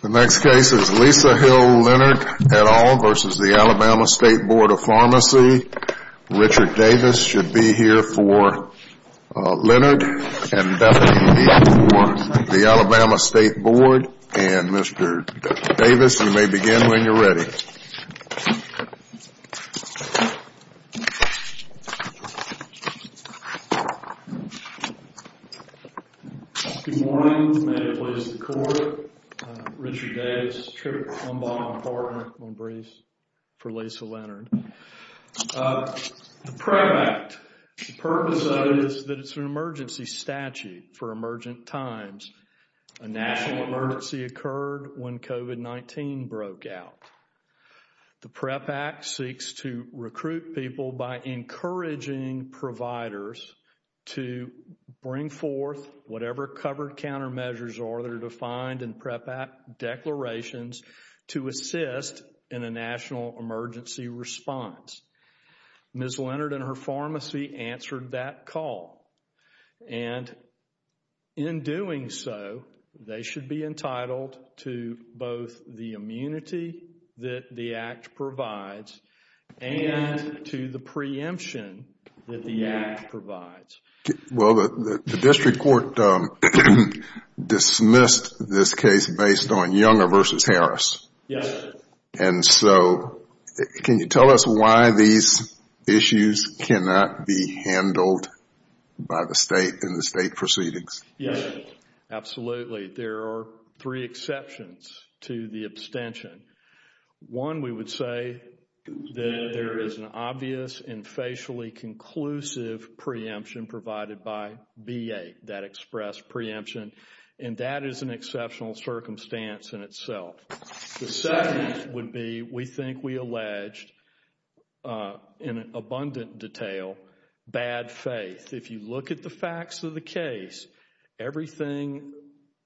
The next case is Lisa Hill Leonard et al. v. The Alabama State Board of Pharmacy. Richard Davis should be here for Leonard and Bethany for the Alabama State Board. And Mr. Davis, you may begin when you're ready. Good morning. May it please the Court. Richard Davis, Chair of the Alabama Department. I'm going to brief for Lisa Leonard. The PREVACT, the purpose of it is that it's an emergency statute for emergent times. A national emergency occurred when COVID-19 broke out. The PREVACT seeks to recruit people by encouraging providers to bring forth whatever covered countermeasures are that are defined in PREVACT declarations to assist in a national emergency response. Ms. Leonard and her pharmacy answered that call. And in doing so, they should be entitled to both the immunity that the Act provides and to the preemption that the Act provides. Well, the district court dismissed this case based on Younger v. Harris. Yes. And so, can you tell us why these issues cannot be handled by the State in the State proceedings? Yes, absolutely. There are three exceptions to the abstention. One, we would say that there is an obvious and facially conclusive preemption provided by B.A. that expressed preemption. And that is an exceptional circumstance in itself. The second would be, we think we alleged in abundant detail, bad faith. If you look at the facts of the case, everything,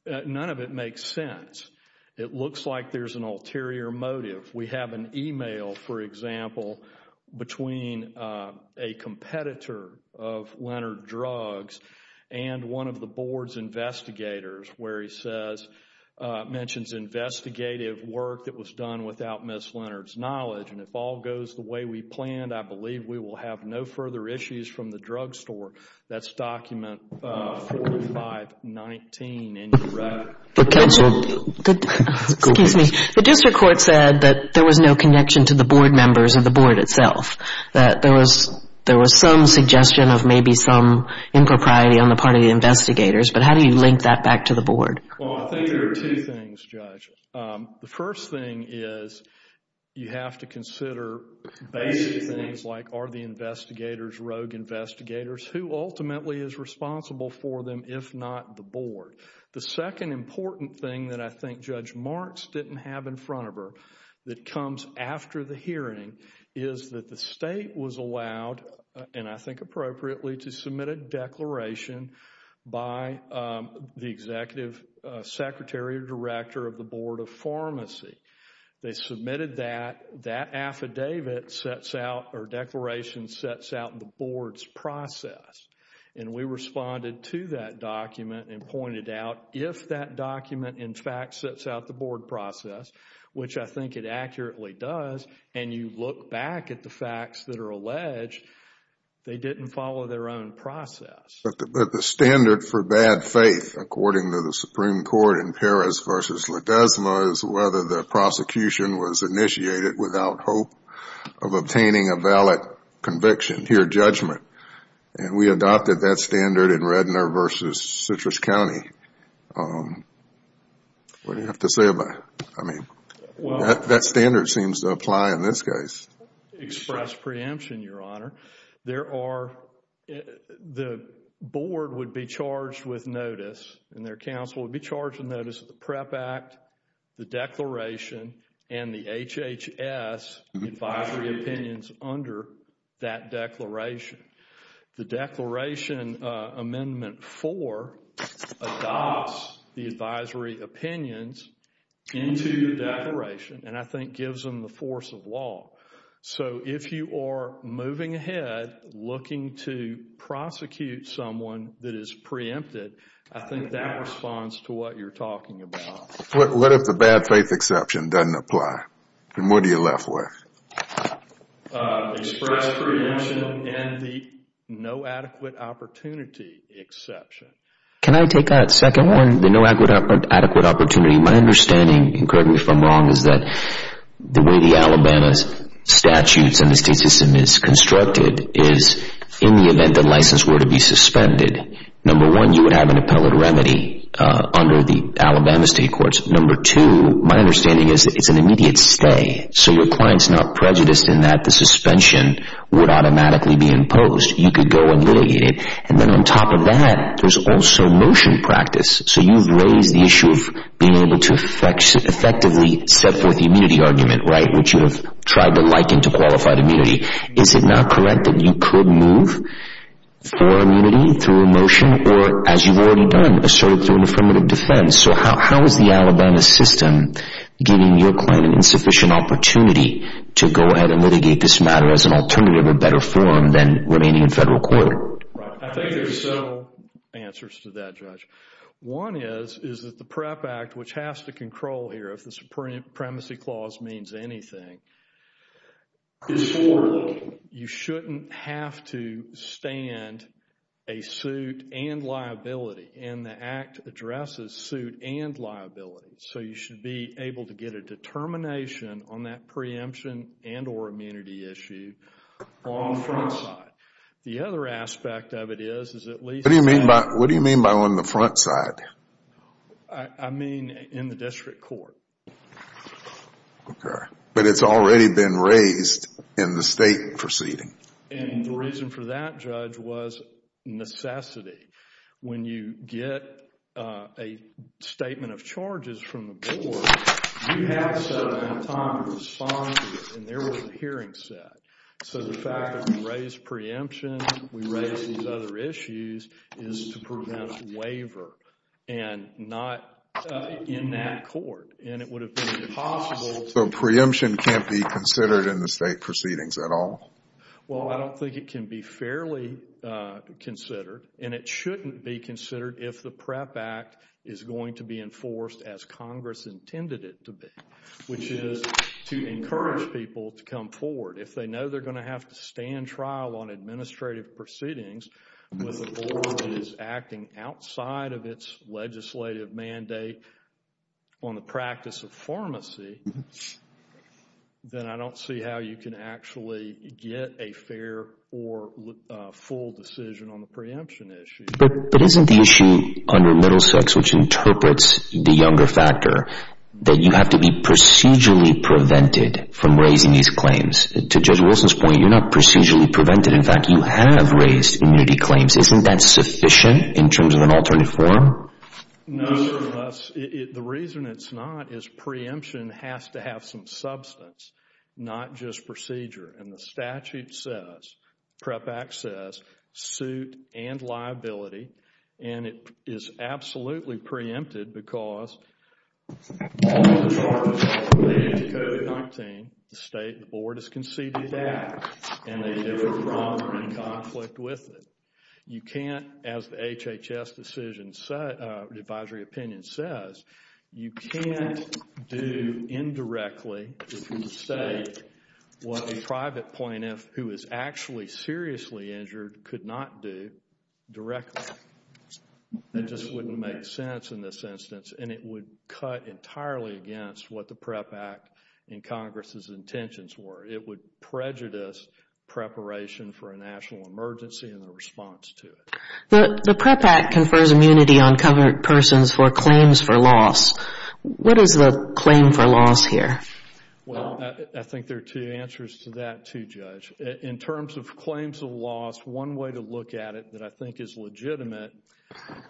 none of it makes sense. It looks like there's an ulterior motive. We have an email, for example, between a competitor of Leonard without Ms. Leonard's knowledge. And if all goes the way we planned, I believe we will have no further issues from the drugstore. That's document 4519. And you're right. The district court said that there was no connection to the board members or the board itself, that there was some suggestion of maybe some impropriety on the part of the investigators. But how do you link that back to the board? Well, I think there are two things, Judge. The first thing is, you have to consider basic things like, are the investigators rogue investigators? Who ultimately is responsible for them, if not the board? The second important thing that I think Judge Marks didn't have in front of her that comes after the hearing is that the executive secretary or director of the Board of Pharmacy, they submitted that, that affidavit sets out or declaration sets out the board's process. And we responded to that document and pointed out if that document in fact sets out the board process, which I think it accurately does, and you look back at the facts that are alleged, they didn't follow their own process. But the standard for bad faith, according to the Supreme Court in Perez v. Ledesma, is whether the prosecution was initiated without hope of obtaining a valid conviction, pure judgment. And we adopted that standard in Rednor v. Citrus County. What do you have to say about it? I mean, that standard seems to apply in this case. Express preemption, Your Honor. There are, the board would be charged with notice, and their counsel would be charged with notice of the PREP Act, the declaration, and the HHS advisory opinions under that declaration. The declaration, Amendment 4, adopts the So if you are moving ahead, looking to prosecute someone that is preempted, I think that responds to what you're talking about. What if the bad faith exception doesn't apply? Then what are you left with? Express preemption and the no adequate opportunity exception. Can I take that second one? The no adequate opportunity. My understanding, and correct me if I'm wrong, is that the way the statutes and the state system is constructed is, in the event the license were to be suspended, number one, you would have an appellate remedy under the Alabama State Courts. Number two, my understanding is it's an immediate stay. So your client's not prejudiced in that the suspension would automatically be imposed. You could go and litigate it. And then on top of that, there's also So you've raised the issue of being able to effectively set forth the immunity argument, which you have tried to liken to qualified immunity. Is it not correct that you could move for immunity through a motion or, as you've already done, assert it through an affirmative defense? So how is the Alabama system giving your client an insufficient opportunity to go ahead and litigate this matter as an alternative or better Right. I think there's several answers to that, Judge. One is, is that the PREP Act, which has to control here, if the Supremacy Clause means anything, is for you shouldn't have to stand a suit and liability. And the Act addresses suit and liability. So you should be able to get a The other aspect of it is, is at least... What do you mean by on the front side? I mean in the district court. Okay. But it's already been raised in the state proceeding. And the reason for that, Judge, was necessity. When you get a statement of charges from the board, you have a set amount of time to respond to it. And there was a hearing set. So the fact that we raised preemption, we raised these other issues, is to prevent waiver. And not in that court. And it would have been impossible to... So preemption can't be considered in the state proceedings at all? Well, I don't think it can be fairly considered. And it shouldn't be considered if the PREP Act is going to be enforced as Congress intended it to be. Which is to encourage people to come forward. If they know they're going to have to stand trial on administrative proceedings, with the board is acting outside of its legislative mandate on the practice of pharmacy, then I don't see how you can actually get a fair or full decision on the preemption issue. But isn't the issue under Middlesex, which interprets the younger factor, that you have to be procedurally prevented from raising these claims? To Judge Wilson's point, you're not procedurally prevented. In fact, you have raised immunity claims. Isn't that sufficient in terms of an alternative form? No, sir. The reason it's not is preemption has to have some substance. Not just procedure. And the statute says, PREP Act says, suit and liability. And it is absolutely preempted because all of the charges related to COVID-19, the state and the board has conceded that. And they do have a problem or conflict with it. You can't, as the HHS decision, the advisory opinion says, you can't do indirectly, if you say, what a private plaintiff who is actually seriously injured could not do directly. It just wouldn't make sense in this instance. And it would cut entirely against what the PREP Act and Congress's intentions were. It would prejudice preparation for a national emergency and the response to it. The PREP Act confers immunity on covered persons for claims for loss. What is the claim for loss here? Well, I think there are two answers to that, too, Judge. In terms of claims of loss, one way to look at it that I think is legitimate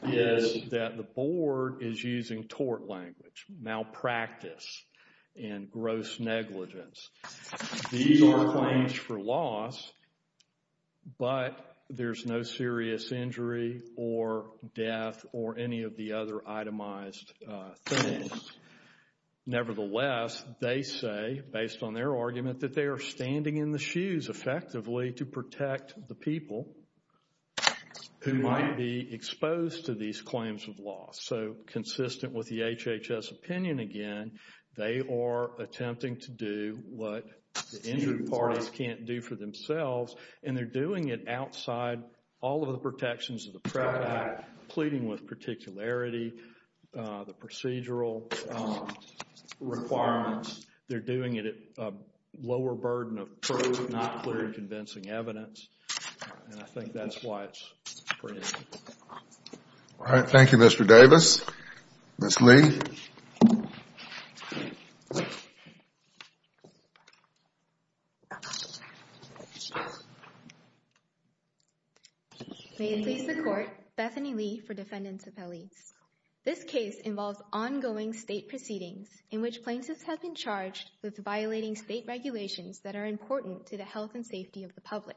is that the board is using tort language, malpractice and gross negligence. These are claims for loss, but there's no serious injury or death or any of the other itemized things. Nevertheless, they say, based on their argument, that they are standing in the shoes effectively to protect the people who might be exposed to these claims of loss. So, consistent with the HHS opinion again, they are attempting to do what the injured parties can't do for themselves, and they're doing it outside all of the protections of the PREP Act, pleading with particularity, the procedural requirements. They're doing it at a lower burden of proof, not clear and convincing evidence. And I think that's why it's pretty. All right. Thank you, Mr. Davis. Ms. Lee. May it please the Court. Bethany Lee for Defendants Appeals. This case involves ongoing state proceedings in which plaintiffs have been charged with violating state regulations that are important to the health and safety of the public.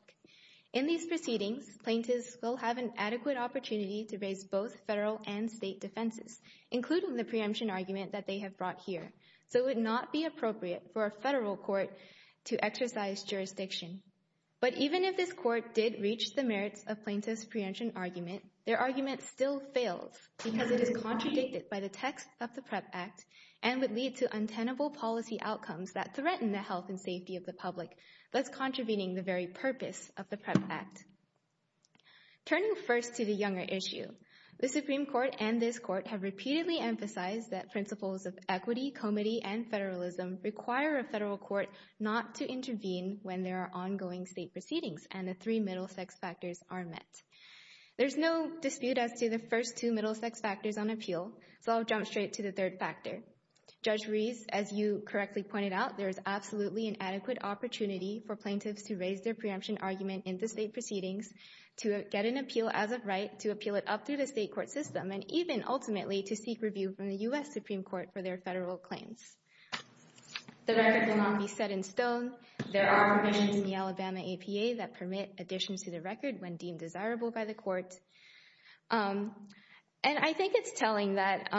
In these proceedings, plaintiffs will have an adequate opportunity to raise both federal and state defenses, including the preemption argument that they have brought here, so it would not be appropriate for a federal court to exercise jurisdiction. But even if this Court did reach the merits of plaintiffs' preemption argument, their argument still fails because it is contradicted by the text of the PREP Act and would lead to untenable policy outcomes that threaten the health and safety of the public, thus contravening the very purpose of the PREP Act. Turning first to the younger issue, the Supreme Court and this Court have repeatedly emphasized that principles of equity, comity, and federalism require a federal court not to intervene when there are ongoing state proceedings and the three middle sex factors are met. There's no dispute as to the first two middle sex factors on appeal, so I'll jump straight to the third factor. Judge Reese, as you correctly pointed out, there is absolutely an adequate opportunity for plaintiffs to raise their preemption argument in the state proceedings, to get an appeal as of right, to appeal it up through the state court system, and even, ultimately, to seek review from the U.S. Supreme Court for their federal claims. The record will not be set in stone. There are provisions in the Alabama APA that permit addition to the record when deemed desirable by the Court. And I think it's telling that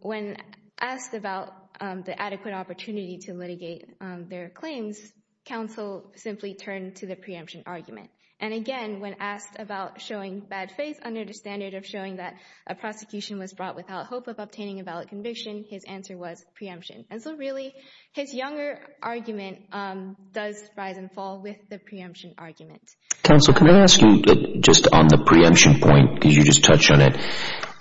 when asked about the adequate opportunity to litigate their claims, counsel simply turned to the preemption argument. And again, when asked about showing bad faith under the standard of showing that a prosecution was brought without hope of obtaining a valid conviction, his answer was preemption. And so really, his younger argument does rise and fall with the preemption argument. Counsel, can I ask you just on the preemption point, because you just touched on it,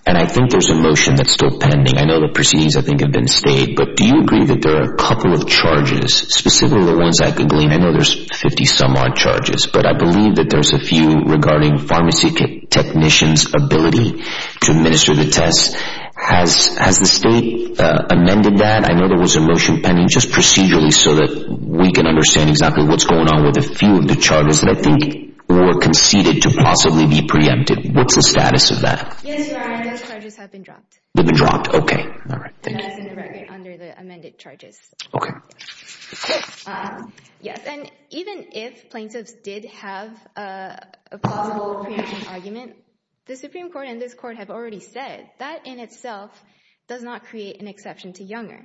and I think there's a motion that's still pending. I know the proceedings, I think, have been stayed, but do you agree that there are a couple of charges, specifically the ones I could glean? I know there's 50-some-odd charges, but I believe that there's a few regarding pharmacy technicians' ability to administer the tests. Has the state amended that? I know there was a motion pending just procedurally so that we can understand exactly what's going on with a few of the charges that I think were conceded to possibly be preempted. What's the status of that? Yes, Your Honor. Those charges have been dropped. They've been dropped. Okay. All right. Thank you. And that's in the record under the amended charges. Okay. Yes. And even if plaintiffs did have a plausible preemption argument, the Supreme Court and this Court have already said that in itself does not create an exception to Younger.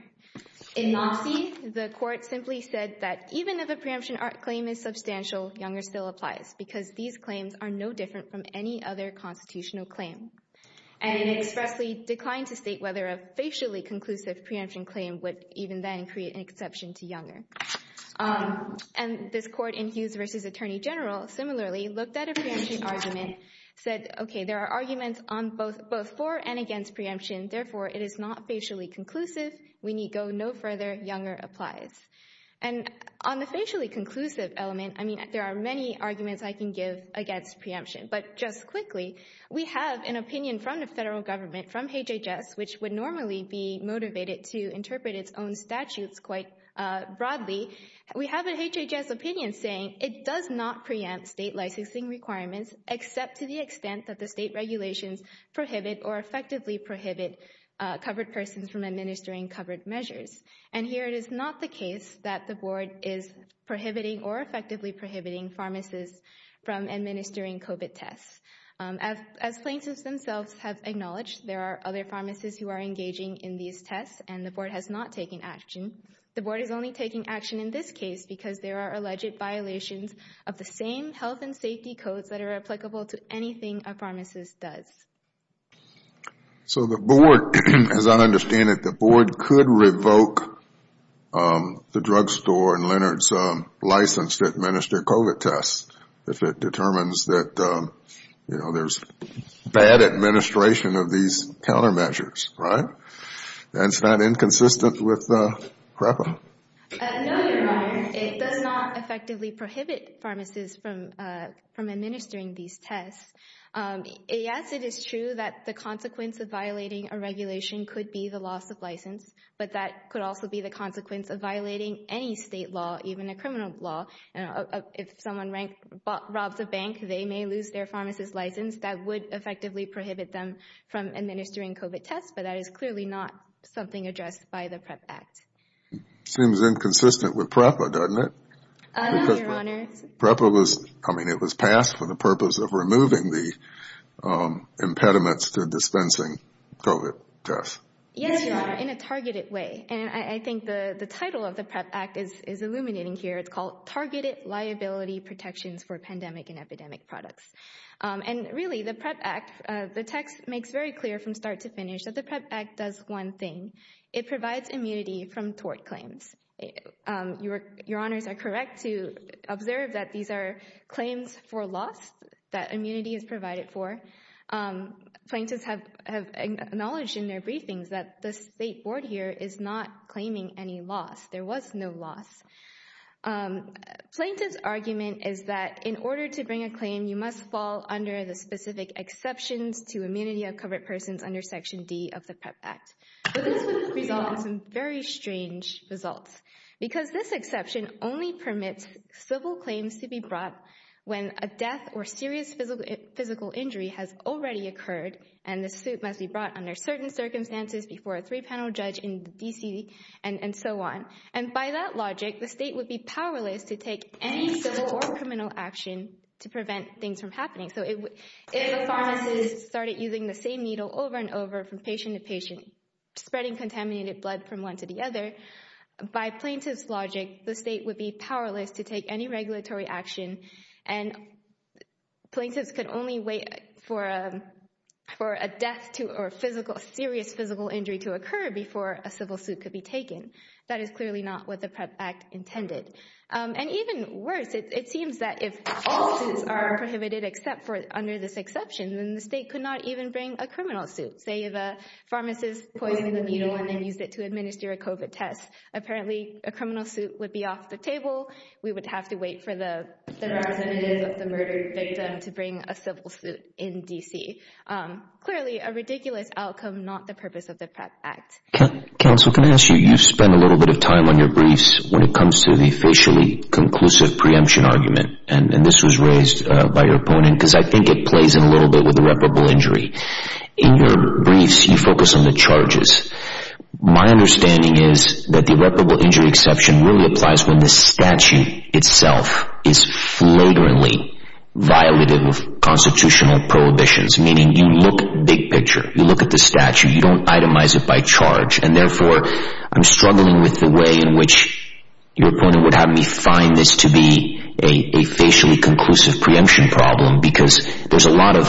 In Namsi, the Court simply said that even if a preemption claim is substantial, Younger still applies because these claims are no different from any other constitutional claim. And it expressly declined to state whether a facially conclusive preemption claim would even then create an exception to Younger. And this Court in Hughes v. Attorney General similarly looked at a preemption argument, said, okay, there are arguments on both for and against preemption, therefore it is not facially conclusive, we need go no further, Younger applies. And on the facially conclusive element, I mean, there are many arguments I can give against preemption. But just quickly, we have an opinion from the federal government, from HHS, which would normally be motivated to interpret its own statutes quite broadly. We have an HHS opinion saying it does not preempt state licensing requirements except to the extent that the state regulations prohibit or effectively prohibit covered persons from administering covered measures. And here it is not the case that the Board is prohibiting or effectively prohibiting pharmacists from administering COVID tests. As plaintiffs themselves have acknowledged, there are other pharmacists who are engaging in these tests and the Board has not taken action. The Board is only taking action in this case because there are alleged violations of the same health and safety codes that are applicable to anything a pharmacist does. So the Board, as I understand it, the Board could revoke the drugstore and Leonard's license to administer COVID tests if it determines that there is bad administration of these countermeasures, right? That's not inconsistent with Rafa. No, Your Honor. It does not effectively prohibit pharmacists from administering these tests. Yes, it is true that the consequence of violating a regulation could be the loss of license, but that could also be the consequence of violating any state law, even a criminal law. If someone robs a bank, they may lose their pharmacist license. That would effectively prohibit them from administering COVID tests, but that is clearly not something addressed by the PREP Act. Seems inconsistent with PREPA, doesn't it? No, Your Honor. PREPA was passed for the purpose of removing the impediments to dispensing COVID tests. Yes, Your Honor, in a targeted way. And I think the title of the PREP Act is illuminating here. It's called Targeted Liability Protections for Pandemic and Epidemic Products. And really, the PREP Act, the text makes very clear from start to finish that the PREP Act does one thing. It provides immunity from tort claims. Your Honors are correct to observe that these are claims for loss that immunity is provided for. Plaintiffs have acknowledged in their briefings that the State Board here is not claiming any loss. There was no loss. Plaintiff's argument is that in order to bring a claim, you must fall under the specific exceptions to immunity of covered persons under Section D of the PREP Act. But this would result in some very strange results. Because this exception only permits civil claims to be brought when a death or serious physical injury has already occurred and the suit must be brought under certain circumstances before a three panel judge in the D.C. and so on. And by that logic, the State would be powerless to take any civil or criminal action to prevent things from happening. So if a pharmacist started using the same needle over and over from patient to patient, spreading contaminated blood from one to the other, by plaintiff's logic, the State would be powerless to take any regulatory action. And plaintiffs could only wait for a death or serious physical injury to occur before a civil suit could be taken. That is clearly not what the PREP Act intended. And even worse, it seems that if all suits are prohibited except for under this exception, then the State could not even bring a criminal suit. Say if a pharmacist poisoned the needle and then used it to administer a COVID test, apparently a criminal suit would be off the table. We would have to wait for the representative of the murdered victim to bring a civil suit in D.C. Clearly a ridiculous outcome, not the purpose of the PREP Act. Counsel, can I ask you, you've spent a little bit of time on your briefs when it comes to the facially conclusive preemption argument. And this was raised by your opponent because I think it plays in a little bit with irreparable injury. In your briefs, you focus on the charges. My understanding is that the irreparable injury exception really applies when the statute itself is flagrantly violated with constitutional prohibitions, meaning you look big picture. You look at the statute. You don't itemize it by charge. And therefore, I'm struggling with the way in which your opponent would have me find this to be a facially conclusive preemption problem because there's a lot of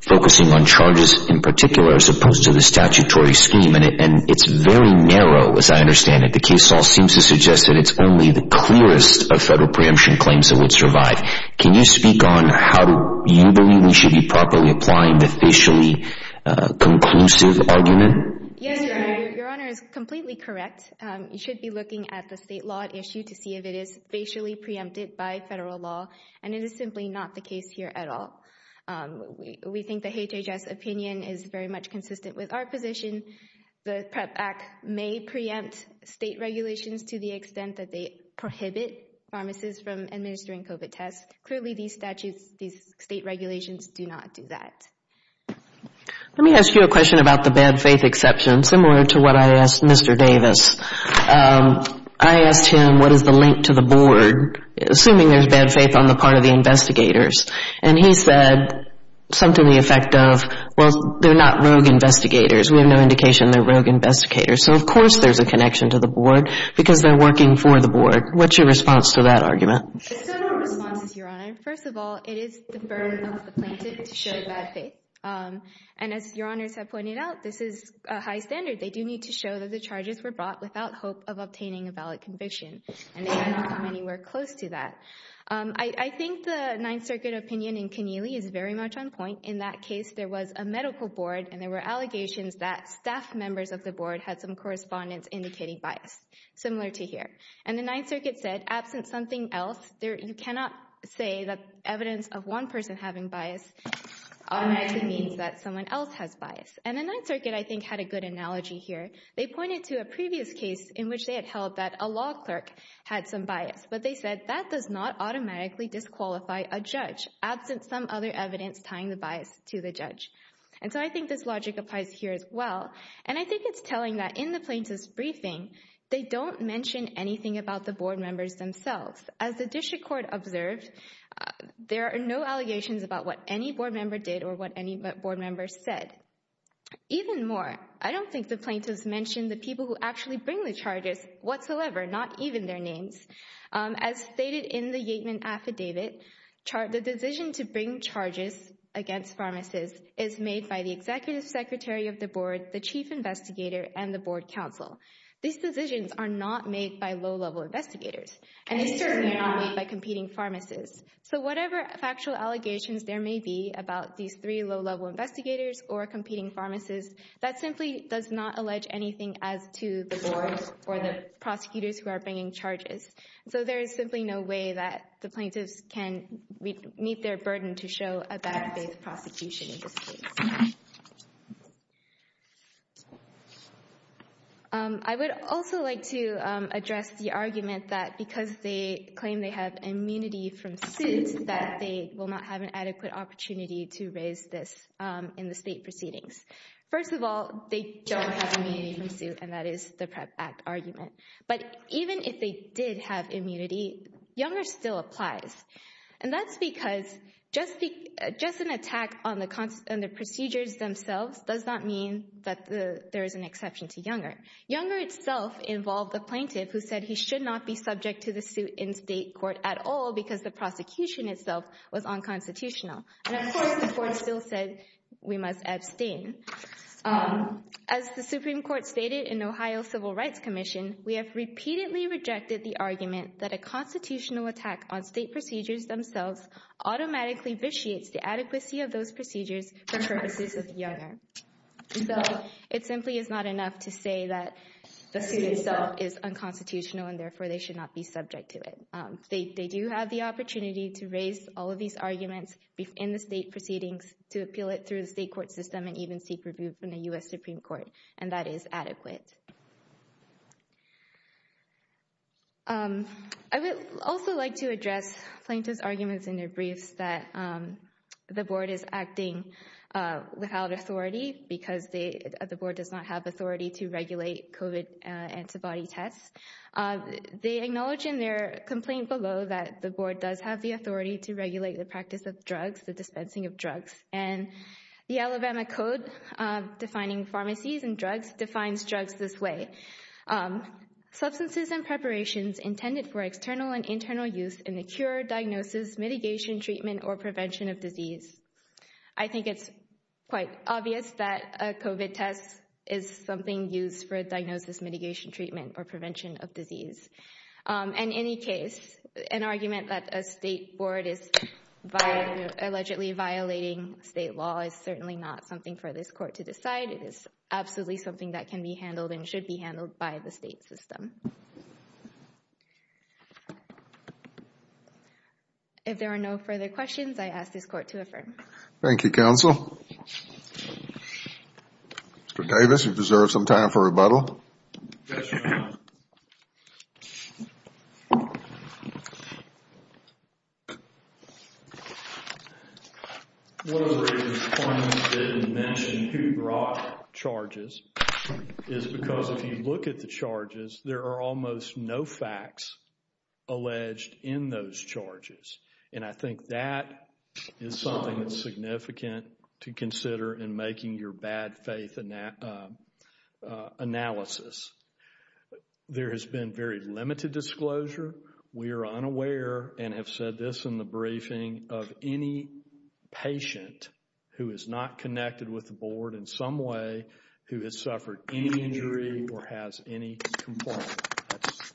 focusing on charges in particular as opposed to the statutory scheme. And it's very narrow as I understand it. The case law seems to suggest that it's only the clearest of federal preemption claims that would survive. Can you speak on how you believe we should be properly applying the facially conclusive argument? Yes, Your Honor. Your Honor is completely correct. You should be looking at the state law at issue to see if it is facially preempted by federal law. And it is simply not the case here at all. We think the HHS opinion is very much consistent with our position. The PREP Act may preempt state regulations to the extent that they prohibit pharmacists from administering COVID tests. Clearly, these statutes, these state regulations do not do that. Let me ask you a question about the bad faith exception, similar to what I asked Mr. Davis. I asked him what is the link to the board, assuming there's bad faith on the part of the investigators. And he said something to the effect of, well, they're not rogue investigators. We have no indication they're rogue investigators. So, of course, there's a connection to the board because they're working for the board. What's your response to that argument? There's several responses, Your Honor. First of all, it is the burden of the plaintiff to show bad faith. And as Your Honors have pointed out, this is a high standard. They do need to show that the charges were brought without hope of obtaining a valid conviction. And they did not come anywhere close to that. I think the Ninth Circuit opinion in Keneally is very much on point. In that case, there was a medical board and there were allegations that staff members of the board had some correspondence indicating bias, similar to here. And the Ninth Circuit said, absent something else, you cannot say that evidence of one person having bias automatically means that someone else has bias. And the Ninth Circuit, I think, had a good analogy here. They pointed to a previous case in which they had held that a law clerk had some bias. But they said that does not automatically disqualify a judge, absent some other evidence tying the bias to the judge. And so I think this logic applies here as well. And I think it's telling that in the plaintiff's briefing, they don't mention anything about the board members themselves. As the district court observed, there are no allegations about what any board member did or what any board member said. Even more, I don't think the plaintiffs mentioned the people who actually bring the charges whatsoever, not even their names. As stated in the Yateman Affidavit, the decision to bring charges against pharmacists is made by the executive secretary of the board, the chief investigator, and the board council. These decisions are not made by low-level investigators. And these decisions are not made by competing pharmacists. So whatever factual allegations there may be about these three low-level investigators or competing pharmacists, that simply does not allege anything as to the board or the prosecutors who are bringing charges. So there is simply no way that the plaintiffs can meet their burden to show a bad-faith prosecution in this case. I would also like to address the argument that because they claim they have immunity from suit, that they will not have an adequate opportunity to raise this in the state proceedings. First of all, they don't have immunity from suit, and that is the PREP Act argument. But even if they did have immunity, Younger still applies. And that's because just an attack on the procedures themselves does not mean that there is an exception to Younger. Younger itself involved the plaintiff who said he should not be subject to the suit in state court at all because the prosecution itself was unconstitutional. And, of course, the court still said we must abstain. As the Supreme Court stated in Ohio Civil Rights Commission, we have repeatedly rejected the argument that a constitutional attack on state procedures themselves automatically vitiates the adequacy of those procedures for purposes of Younger. So it simply is not enough to say that the suit itself is unconstitutional and therefore they should not be subject to it. They do have the opportunity to raise all of these arguments in the state proceedings, to appeal it through the state court system and even seek review from the U.S. Supreme Court. And that is adequate. I would also like to address plaintiff's arguments in their briefs that the board is acting without authority because the board does not have authority to regulate COVID antibody tests. They acknowledge in their complaint below that the board does have the authority to regulate the practice of drugs, the dispensing of drugs. And the Alabama Code defining pharmacies and drugs defines drugs this way. Substances and preparations intended for external and internal use in the cure, diagnosis, mitigation, treatment or prevention of disease. I think it's quite obvious that a COVID test is something used for diagnosis, mitigation, treatment or prevention of disease. In any case, an argument that a state board is allegedly violating state law is certainly not something for this court to decide. It is absolutely something that can be handled and should be handled by the state system. If there are no further questions, I ask this court to affirm. Thank you, counsel. Mr. Davis, you deserve some time for rebuttal. Yes, Your Honor. One of the reasons plaintiffs didn't mention who brought charges is because if you look at the charges, there are almost no facts alleged in those charges. And I think that is something that's significant to consider in making your bad faith analysis. There has been very limited disclosure. We are unaware and have said this in the briefing of any patient who is not connected with the board in some way who has suffered any injury or has any complaint. That's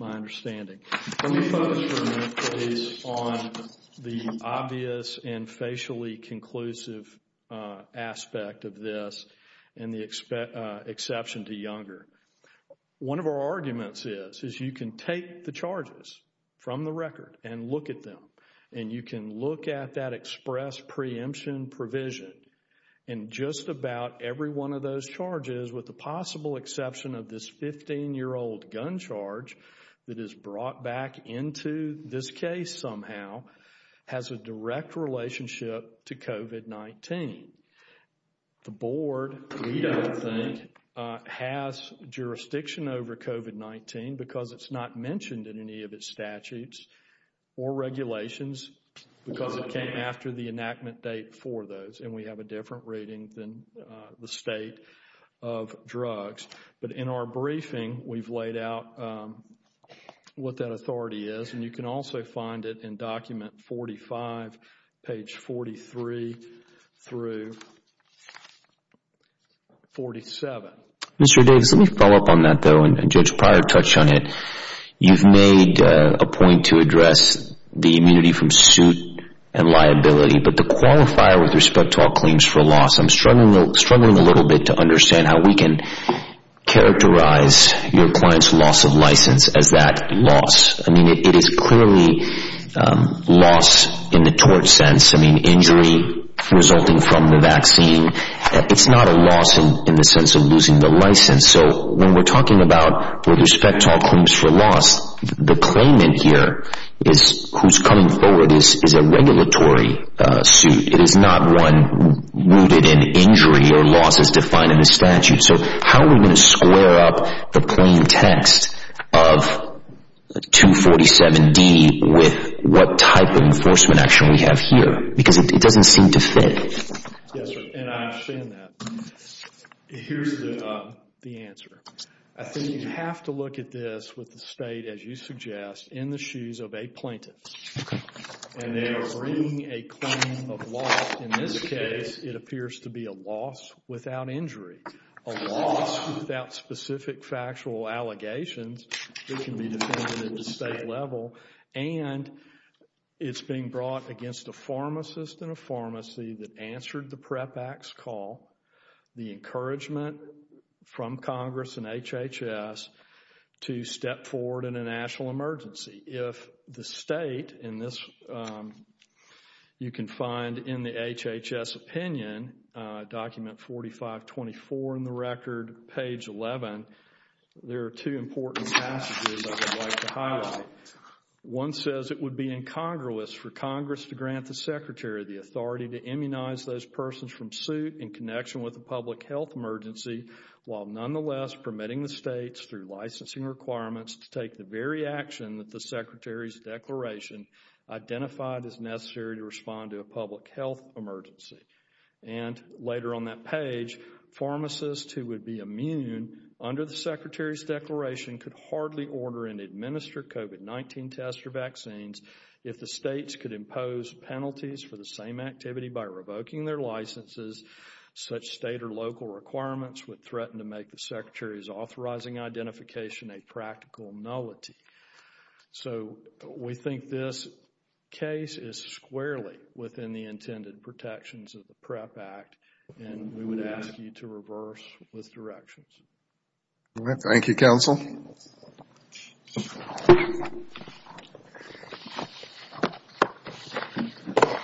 my understanding. Let me focus for a minute, please, on the obvious and facially conclusive aspect of this and the exception to Younger. One of our arguments is you can take the charges from the record and look at them, and you can look at that express preemption provision. And just about every one of those charges, with the possible exception of this 15-year-old gun charge that is brought back into this case somehow, has a direct relationship to COVID-19. The board, we don't think, has jurisdiction over COVID-19 because it's not mentioned in any of its statutes or regulations because it came after the enactment date for those. And we have a different rating than the state of drugs. But in our briefing, we've laid out what that authority is, and you can also find it in document 45, page 43 through 47. Mr. Davis, let me follow up on that, though, and Judge Pryor touched on it. You've made a point to address the immunity from suit and liability, but the qualifier with respect to all claims for loss, I'm struggling a little bit to understand how we can characterize your client's loss of license as that loss. I mean, it is clearly loss in the tort sense. I mean, injury resulting from the vaccine. It's not a loss in the sense of losing the license. So when we're talking about with respect to all claims for loss, the claimant here who's coming forward is a regulatory suit. It is not one rooted in injury or losses defined in the statute. So how are we going to square up the plain text of 247D with what type of enforcement action we have here? Because it doesn't seem to fit. Yes, sir, and I understand that. Here's the answer. I think you have to look at this with the state, as you suggest, in the shoes of a plaintiff. And they are bringing a claim of loss. In this case, it appears to be a loss without injury, a loss without specific factual allegations that can be defended at the state level. And it's being brought against a pharmacist and a pharmacy that answered the PREP Act's call, the encouragement from Congress and HHS to step forward in a national emergency. If the state, and this you can find in the HHS opinion, document 4524 in the record, page 11, there are two important passages I would like to highlight. One says it would be incongruous for Congress to grant the Secretary the authority to immunize those persons from suit in connection with a public health emergency while nonetheless permitting the states through licensing requirements to take the very action that the Secretary's declaration identified as necessary to respond to a public health emergency. And later on that page, pharmacists who would be immune under the Secretary's declaration could hardly order and administer COVID-19 tests or vaccines if the states could impose penalties for the same activity by revoking their licenses. Such state or local requirements would threaten to make the Secretary's authorizing identification a practical nullity. So we think this case is squarely within the intended protections of the PREP Act, and we would ask you to reverse with directions. Thank you, Counsel.